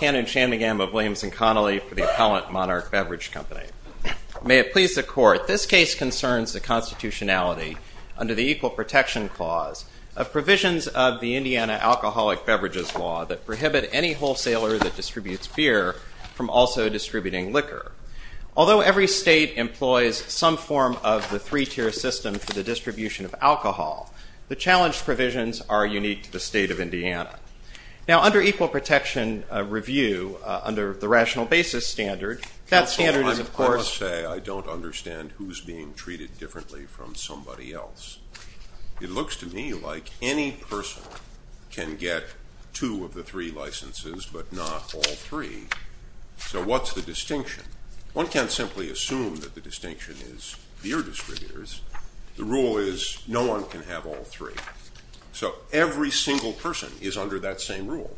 Cannon Shanmugam of Williams & Connolly for the Appellant Monarch Beverage Company. May it please the Court, this case concerns the constitutionality, under the Equal Protection Clause, of provisions of the Indiana Alcoholic Beverages Law that prohibit any wholesaler that distributes beer from also distributing liquor. Although every state employs some form of the three-tier system for the distribution of alcohol, the challenged provisions are unique to the state of Indiana. Now under Equal Protection Review, under the Rational Basis Standard, that standard is of course- Counsel, I must say I don't understand who's being treated differently from somebody else. It looks to me like any person can get two of the three licenses but not all three. So what's the distinction? One can't simply assume that the distinction is beer distributors. The rule is no one can have all three. So every single person is under that same rule.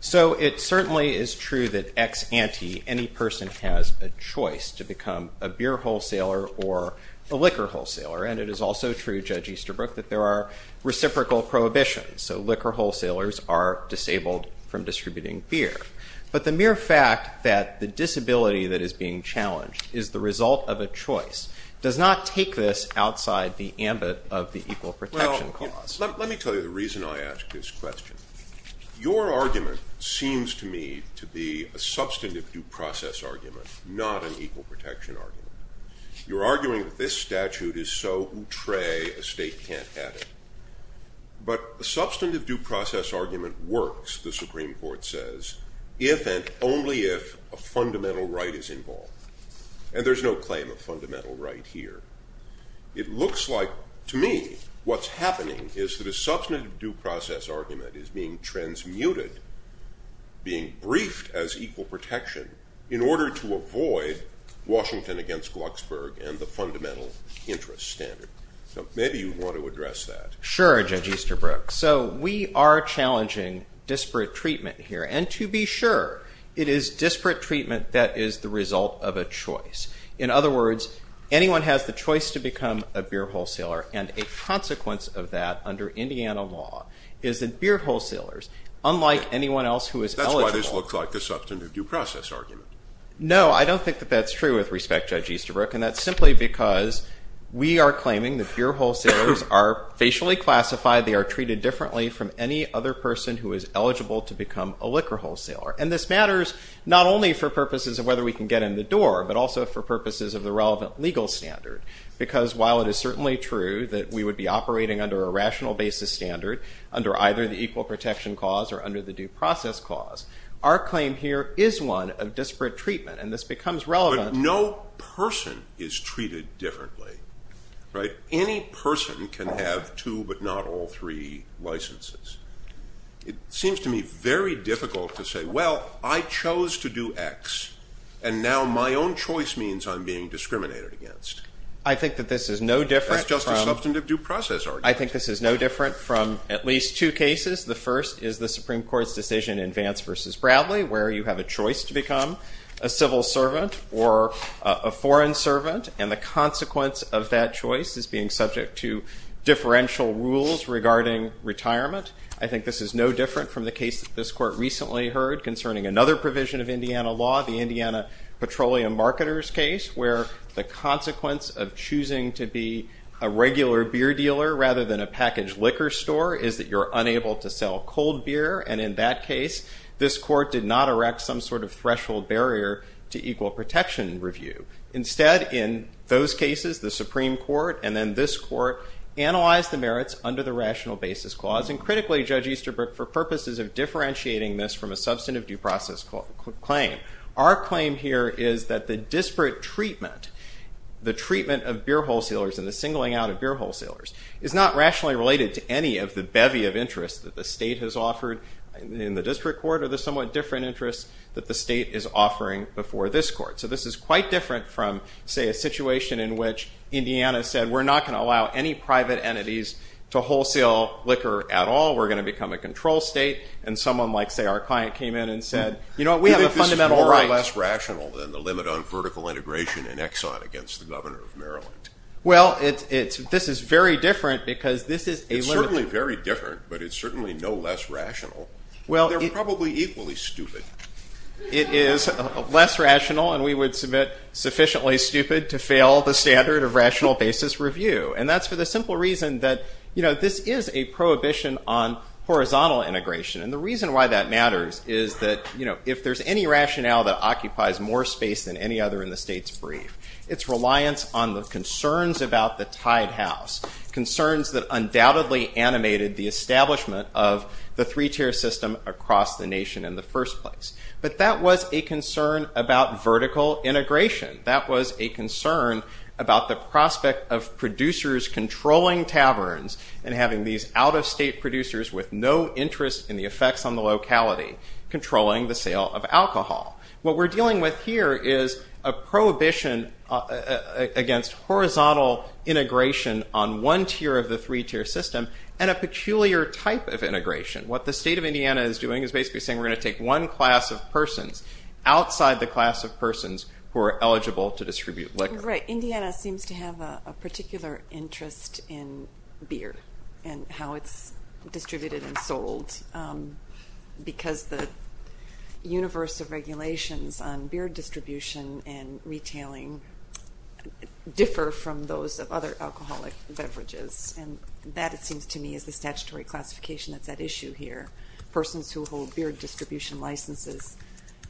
So it certainly is true that ex ante, any person has a choice to become a beer wholesaler or a liquor wholesaler. And it is also true, Judge Easterbrook, that there are reciprocal prohibitions. So liquor wholesalers are disabled from distributing beer. But the mere fact that the disability that is being challenged is the result of a choice does not take this outside the ambit of the Equal Protection Clause. Well, let me tell you the reason I ask this question. Your argument seems to me to be a substantive due process argument, not an equal protection argument. You're arguing that this statute is so outré a state can't have it. But a substantive due process argument works, the Supreme Court says, if and only if a fundamental right is involved. And there's no claim of fundamental right here. It looks like, to me, what's happening is that a substantive due process argument is being transmuted, being briefed as equal protection, in order to avoid Washington against Glucksburg and the fundamental interest standard. So maybe you want to address that. Sure, Judge Easterbrook. So we are challenging disparate treatment here. And to be sure, it is disparate treatment that is the result of a choice. In other words, anyone has the choice to become a beer wholesaler. And a consequence of that, under Indiana law, is that beer wholesalers, unlike anyone else who is eligible. That's why this looks like a substantive due process argument. No, I don't think that that's true, with respect, Judge Easterbrook. And that's simply because we are claiming that beer wholesalers are facially classified. They are treated differently from any other person who is eligible to become a liquor wholesaler. And this matters not only for purposes of whether we can get in the door, but also for purposes of the relevant legal standard. Because while it is certainly true that we would be operating under a rational basis standard, under either the equal protection clause or under the due process clause, our claim here is one of disparate treatment. And this becomes relevant. But no person is treated differently, right? Any person can have two but not all three licenses. It seems to me very difficult to say, well, I chose to do X, and now my own choice means I'm being discriminated against. I think that this is no different from— That's just a substantive due process argument. I think this is no different from at least two cases. The first is the Supreme Court's decision in Vance v. Bradley, where you have a choice to become a civil servant or a foreign servant. And the consequence of that choice is being subject to differential rules regarding retirement. I think this is no different from the case that this Court recently heard concerning another provision of Indiana law, the Indiana Petroleum Marketers case, where the consequence of choosing to be a regular beer dealer rather than a packaged liquor store is that you're unable to sell cold beer. And in that case, this Court did not erect some sort of threshold barrier to equal protection review. Instead, in those cases, the Supreme Court and then this Court analyzed the merits under the Rational Basis Clause, and critically, Judge Easterbrook, for purposes of differentiating this from a substantive due process claim. Our claim here is that the disparate treatment, the treatment of beer wholesalers and the singling out of beer wholesalers, is not rationally related to any of the bevy of interest that the state has offered in the district court or the somewhat different interests that the state is offering before this Court. So this is quite different from, say, a situation in which Indiana said, we're not going to allow any private entities to wholesale liquor at all. We're going to become a control state. And someone like, say, our client came in and said, you know what, we have a fundamental right. Do you think this is more or less rational than the limit on vertical integration in Exxon against the governor of Maryland? Well, this is very different because this is a limit. It's certainly very different, but it's certainly no less rational. They're probably equally stupid. It is less rational, and we would submit sufficiently stupid to fail the standard of rational basis review. And that's for the simple reason that, you know, this is a prohibition on horizontal integration. And the reason why that matters is that, you know, if there's any rationale that occupies more space than any other in the state's brief, it's reliance on the concerns about the Tide House, concerns that undoubtedly animated the establishment of the three-tier system across the nation in the first place. But that was a concern about vertical integration. That was a concern about the prospect of producers controlling taverns and having these out-of-state producers with no interest in the effects on the locality controlling the sale of alcohol. What we're dealing with here is a prohibition against horizontal integration on one tier of the three-tier system and a peculiar type of integration. What the state of Indiana is doing is basically saying we're going to take one class of persons outside the class of persons who are eligible to distribute liquor. Right. Indiana seems to have a particular interest in beer and how it's distributed and sold because the universe of regulations on beer distribution and retailing differ from those of other alcoholic beverages. And that, it seems to me, is the statutory classification that's at issue here. Persons who hold beer distribution licenses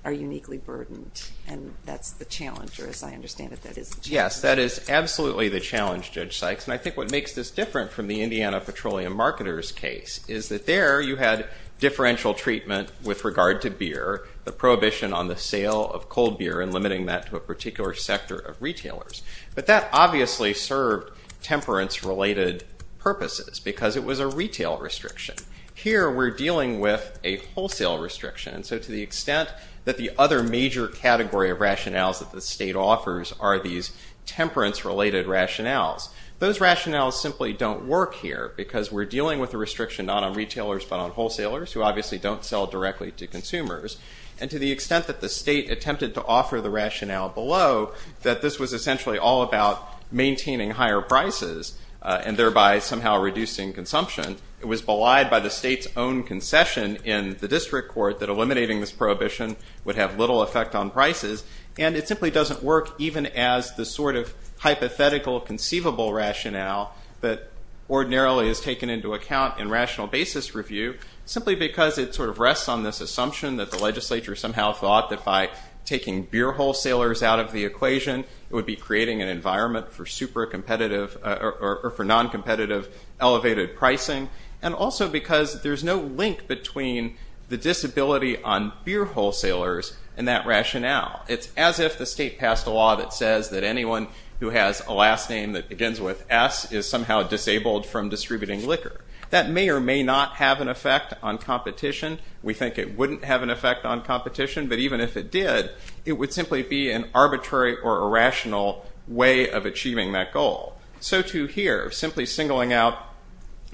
are uniquely burdened and that's the challenge or as I understand it, that is the challenge. Yes, that is absolutely the challenge, Judge Sykes. And I think what makes this different from the Indiana Petroleum Marketers case is that there you had differential treatment with regard to beer, the prohibition on the sale of cold beer and limiting that to a particular sector of retailers. But that obviously served temperance-related purposes because it was a retail restriction. Here we're dealing with a wholesale restriction and so to the extent that the other major category of rationales that the state offers are these temperance-related rationales. Those rationales simply don't work here because we're dealing with a restriction not on retailers but on wholesalers who obviously don't sell directly to consumers. And to the extent that the state attempted to offer the rationale below that this was essentially all about maintaining higher prices and thereby somehow reducing consumption, it was belied by the state's own concession in the district court that eliminating this prohibition would have little effect on prices. And it simply doesn't work even as the sort of hypothetical conceivable rationale that ordinarily is taken into account in rational basis review simply because it sort of rests on this assumption that the legislature somehow thought that by taking beer wholesalers out of the equation it would be creating an environment for super competitive or for non-competitive elevated pricing. And also because there's no link between the disability on beer wholesalers and that rationale. It's as if the state passed a law that says that anyone who has a last name that begins with S is somehow disabled from distributing liquor. That may or may not have an effect on competition. We think it wouldn't have an effect on competition but even if it did, it would simply be an arbitrary or irrational way of achieving that goal. So too here, simply singling out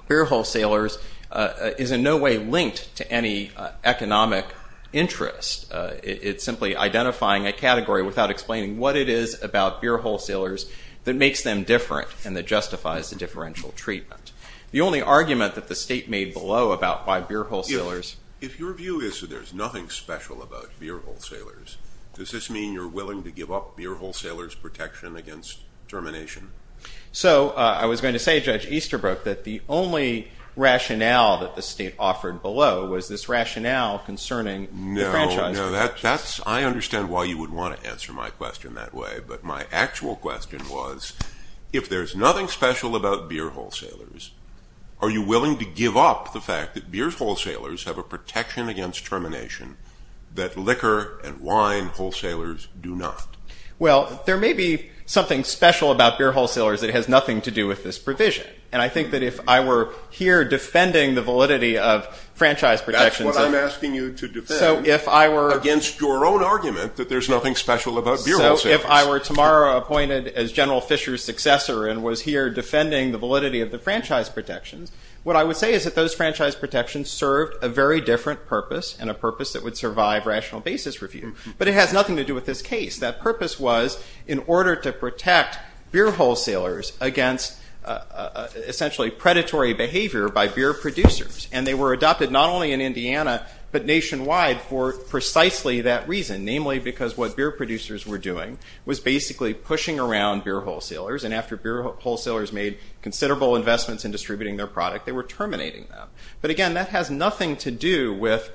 beer wholesalers is in no way linked to any economic interest. It's simply identifying a category without explaining what it is about beer wholesalers that makes them different and that justifies the differential treatment. The only argument that the state made below about why beer wholesalers- If your view is that there's nothing special about beer wholesalers, does this mean you're willing to give up beer wholesalers' protection against termination? So I was going to say, Judge Easterbrook, that the only rationale that the state offered below was this rationale concerning the franchise- I understand why you would want to answer my question that way but my actual question was if there's nothing special about beer wholesalers, are you willing to give up the fact that beer wholesalers have a protection against termination that liquor and wine wholesalers do not? Well, there may be something special about beer wholesalers that has nothing to do with this provision. And I think that if I were here defending the validity of franchise protections- That's what I'm asking you to defend against your own argument that there's nothing special about beer wholesalers. So if I were tomorrow appointed as General Fisher's successor and was here defending the validity of the franchise protections, what I would say is that those franchise protections served a very different purpose and a purpose that would survive rational basis review. But it has nothing to do with this case. That purpose was in order to protect beer wholesalers against essentially predatory behavior by beer producers. And they were adopted not only in Indiana but nationwide for precisely that reason, namely because what beer producers were doing was basically pushing around beer wholesalers and after beer wholesalers made considerable investments in distributing their product, they were terminating them. But again, that has nothing to do with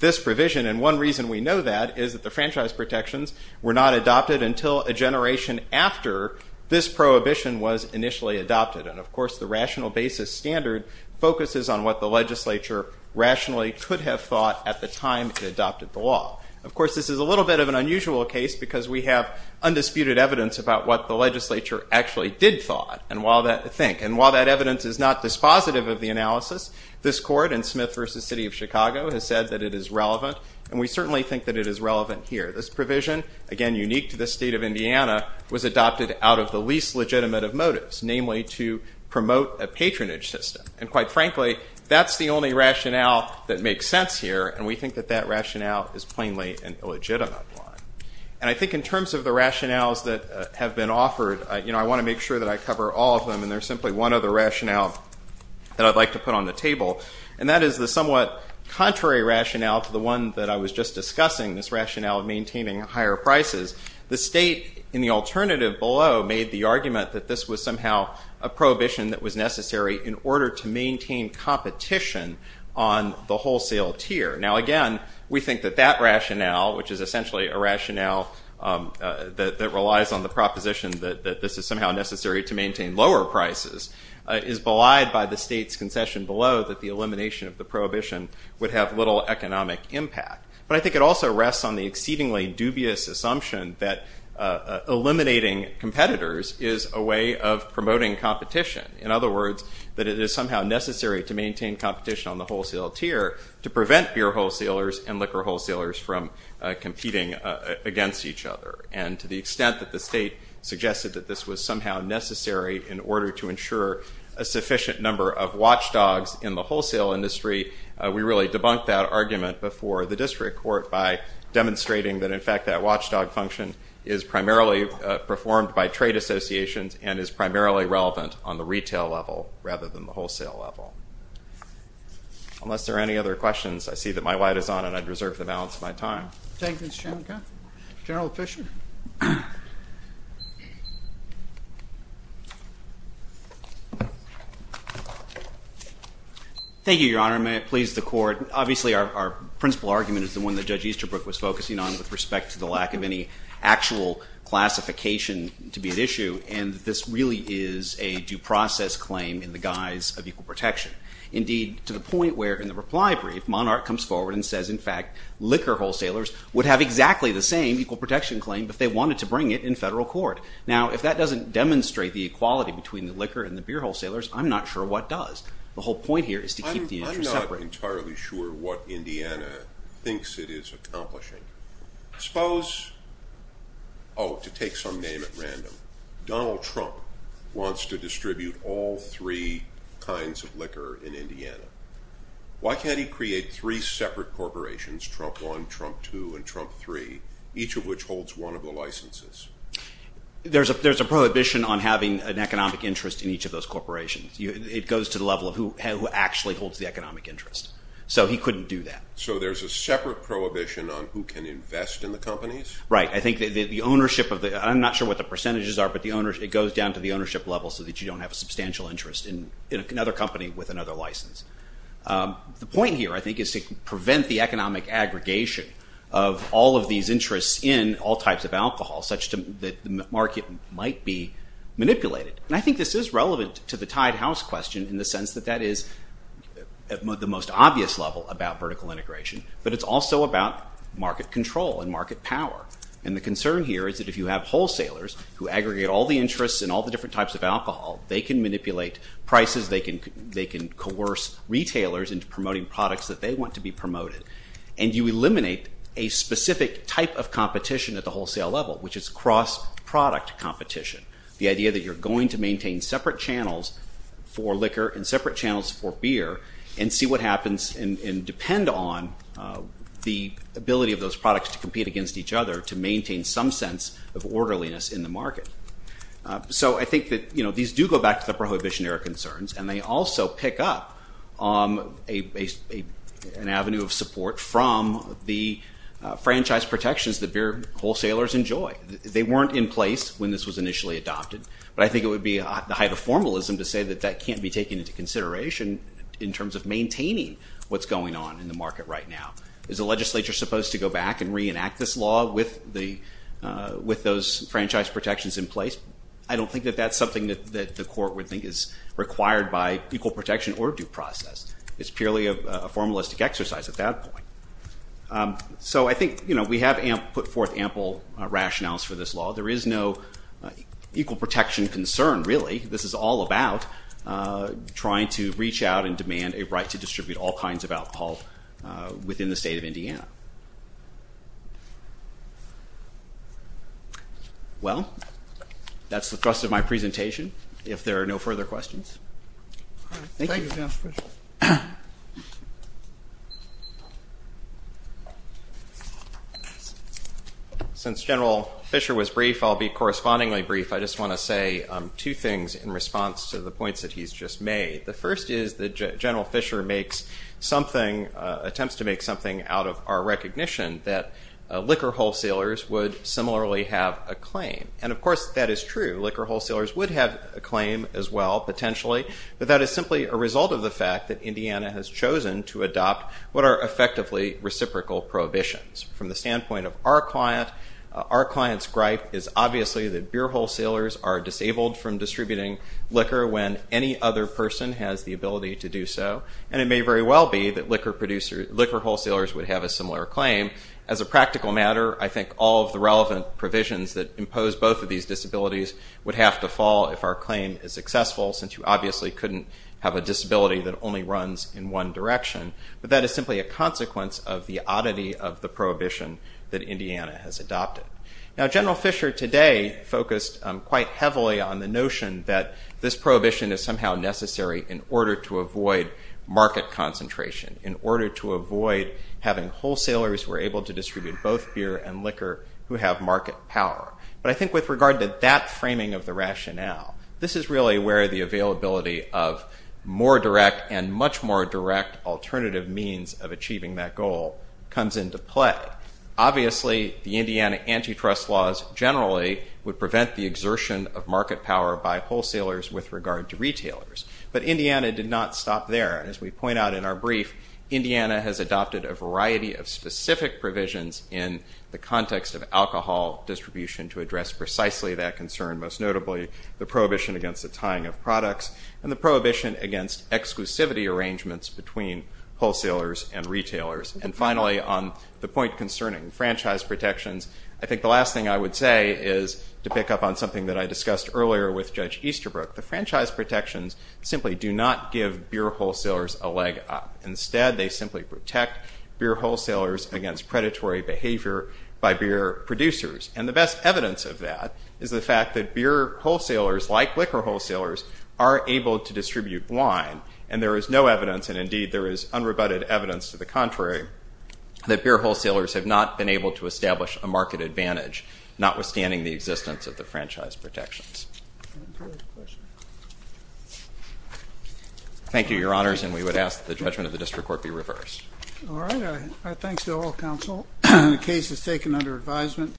this provision. And one reason we know that is that the franchise protections were not adopted until a generation after this prohibition was initially adopted. And of course, the rational basis standard focuses on what the legislature rationally could have thought at the time it adopted the law. Of course, this is a little bit of an unusual case because we have undisputed evidence about what the legislature actually did think. And while that evidence is not dispositive of the analysis, this court in Smith v. City of Chicago has said that it is relevant, and we certainly think that it is relevant here. This provision, again unique to the state of Indiana, was adopted out of the least legitimate of motives, namely to promote a patronage system. And quite frankly, that's the only rationale that makes sense here, and we think that that rationale is plainly an illegitimate one. And I think in terms of the rationales that have been offered, you know, I want to make sure that I cover all of them, and there's simply one other rationale that I'd like to put on the table. And that is the somewhat contrary rationale to the one that I was just discussing, this rationale of maintaining higher prices. The state in the alternative below made the argument that this was somehow a prohibition that was necessary in order to maintain competition on the wholesale tier. Now again, we think that that rationale, which is essentially a rationale that relies on the proposition that this is somehow necessary to maintain lower prices, is belied by the elimination of the prohibition would have little economic impact. But I think it also rests on the exceedingly dubious assumption that eliminating competitors is a way of promoting competition. In other words, that it is somehow necessary to maintain competition on the wholesale tier to prevent beer wholesalers and liquor wholesalers from competing against each other. And to the extent that the state suggested that this was somehow necessary in order to maintain competition on the wholesale industry, we really debunked that argument before the district court by demonstrating that, in fact, that watchdog function is primarily performed by trade associations and is primarily relevant on the retail level rather than the wholesale level. Unless there are any other questions, I see that my light is on and I'd reserve the balance of my time. Thank you, Mr. Chairman. General Fisher. Thank you, Your Honor. May it please the Court. Obviously our principal argument is the one that Judge Easterbrook was focusing on with respect to the lack of any actual classification to be at issue, and this really is a due process claim in the guise of equal protection. Indeed, to the point where, in the reply brief, Monarch comes forward and says, in fact, liquor wholesalers would have exactly the same equal protection claim if they wanted to bring it in federal court. Now, if that doesn't demonstrate the equality between the liquor and the beer wholesalers, I'm not sure what does. The whole point here is to keep the interests separate. I'm not entirely sure what Indiana thinks it is accomplishing. Suppose, oh, to take some name at random, Donald Trump wants to distribute all three kinds of liquor in Indiana. Why can't he create three separate corporations, Trump 1, Trump 2, and Trump 3, each of which holds one of the licenses? There's a prohibition on having an economic interest in each of those corporations. It goes to the level of who actually holds the economic interest. So he couldn't do that. So there's a separate prohibition on who can invest in the companies? Right. I think the ownership of the – I'm not sure what the percentages are, but it goes down to the ownership level so that you don't have a substantial interest in another company with another license. The point here, I think, is to prevent the economic aggregation of all of these interests in all types of alcohol such that the market might be manipulated. I think this is relevant to the tied house question in the sense that that is at the most obvious level about vertical integration, but it's also about market control and market power. And the concern here is that if you have wholesalers who aggregate all the interests in all the markets, they can coerce retailers into promoting products that they want to be promoted. And you eliminate a specific type of competition at the wholesale level, which is cross-product competition, the idea that you're going to maintain separate channels for liquor and separate channels for beer and see what happens and depend on the ability of those products to compete against each other to maintain some sense of orderliness in the market. So I think that these do go back to the Prohibition Era concerns, and they also pick up an avenue of support from the franchise protections that beer wholesalers enjoy. They weren't in place when this was initially adopted, but I think it would be the height of formalism to say that that can't be taken into consideration in terms of maintaining what's going on in the market right now. Is the legislature supposed to go back and reenact this law with those franchise protections in place? I don't think that that's something that the court would think is required by equal protection or due process. It's purely a formalistic exercise at that point. So I think, you know, we have put forth ample rationales for this law. There is no equal protection concern, really. This is all about trying to reach out and demand a right to distribute all kinds of alcohol within the state of Indiana. Well, that's the thrust of my presentation. If there are no further questions. Thank you, General Fischer. Since General Fischer was brief, I'll be correspondingly brief. I just want to say two things in response to the points that he's just made. The first is that General Fischer makes something, attempts to make something out of our recognition that liquor wholesalers would similarly have a claim. And of course, that is true. Liquor wholesalers would have a claim as well, potentially, but that is simply a result of the fact that Indiana has chosen to adopt what are effectively reciprocal prohibitions. From the standpoint of our client, our client's gripe is obviously that beer wholesalers are has the ability to do so, and it may very well be that liquor wholesalers would have a similar claim. As a practical matter, I think all of the relevant provisions that impose both of these disabilities would have to fall if our claim is successful, since you obviously couldn't have a disability that only runs in one direction, but that is simply a consequence of the oddity of the prohibition that Indiana has adopted. Now General Fischer today focused quite heavily on the notion that this prohibition is somehow necessary in order to avoid market concentration, in order to avoid having wholesalers who are able to distribute both beer and liquor who have market power. But I think with regard to that framing of the rationale, this is really where the availability of more direct and much more direct alternative means of achieving that goal comes into play. Obviously the Indiana antitrust laws generally would prevent the exertion of market power by wholesalers with regard to retailers, but Indiana did not stop there. As we point out in our brief, Indiana has adopted a variety of specific provisions in the context of alcohol distribution to address precisely that concern, most notably the prohibition against the tying of products and the prohibition against exclusivity arrangements between wholesalers and retailers. And finally, on the point concerning franchise protections, I think the last thing I would say is to pick up on something that I discussed earlier with Judge Easterbrook. The franchise protections simply do not give beer wholesalers a leg up. Instead, they simply protect beer wholesalers against predatory behavior by beer producers. And the best evidence of that is the fact that beer wholesalers, like liquor wholesalers, are able to distribute wine, and there is no evidence, and indeed there is unrebutted evidence to the contrary, that beer wholesalers have not been able to establish a market advantage, notwithstanding the existence of the franchise protections. Thank you, Your Honors, and we would ask that the judgment of the district court be reversed. All right. Thanks to all counsel. The case is taken under advisement.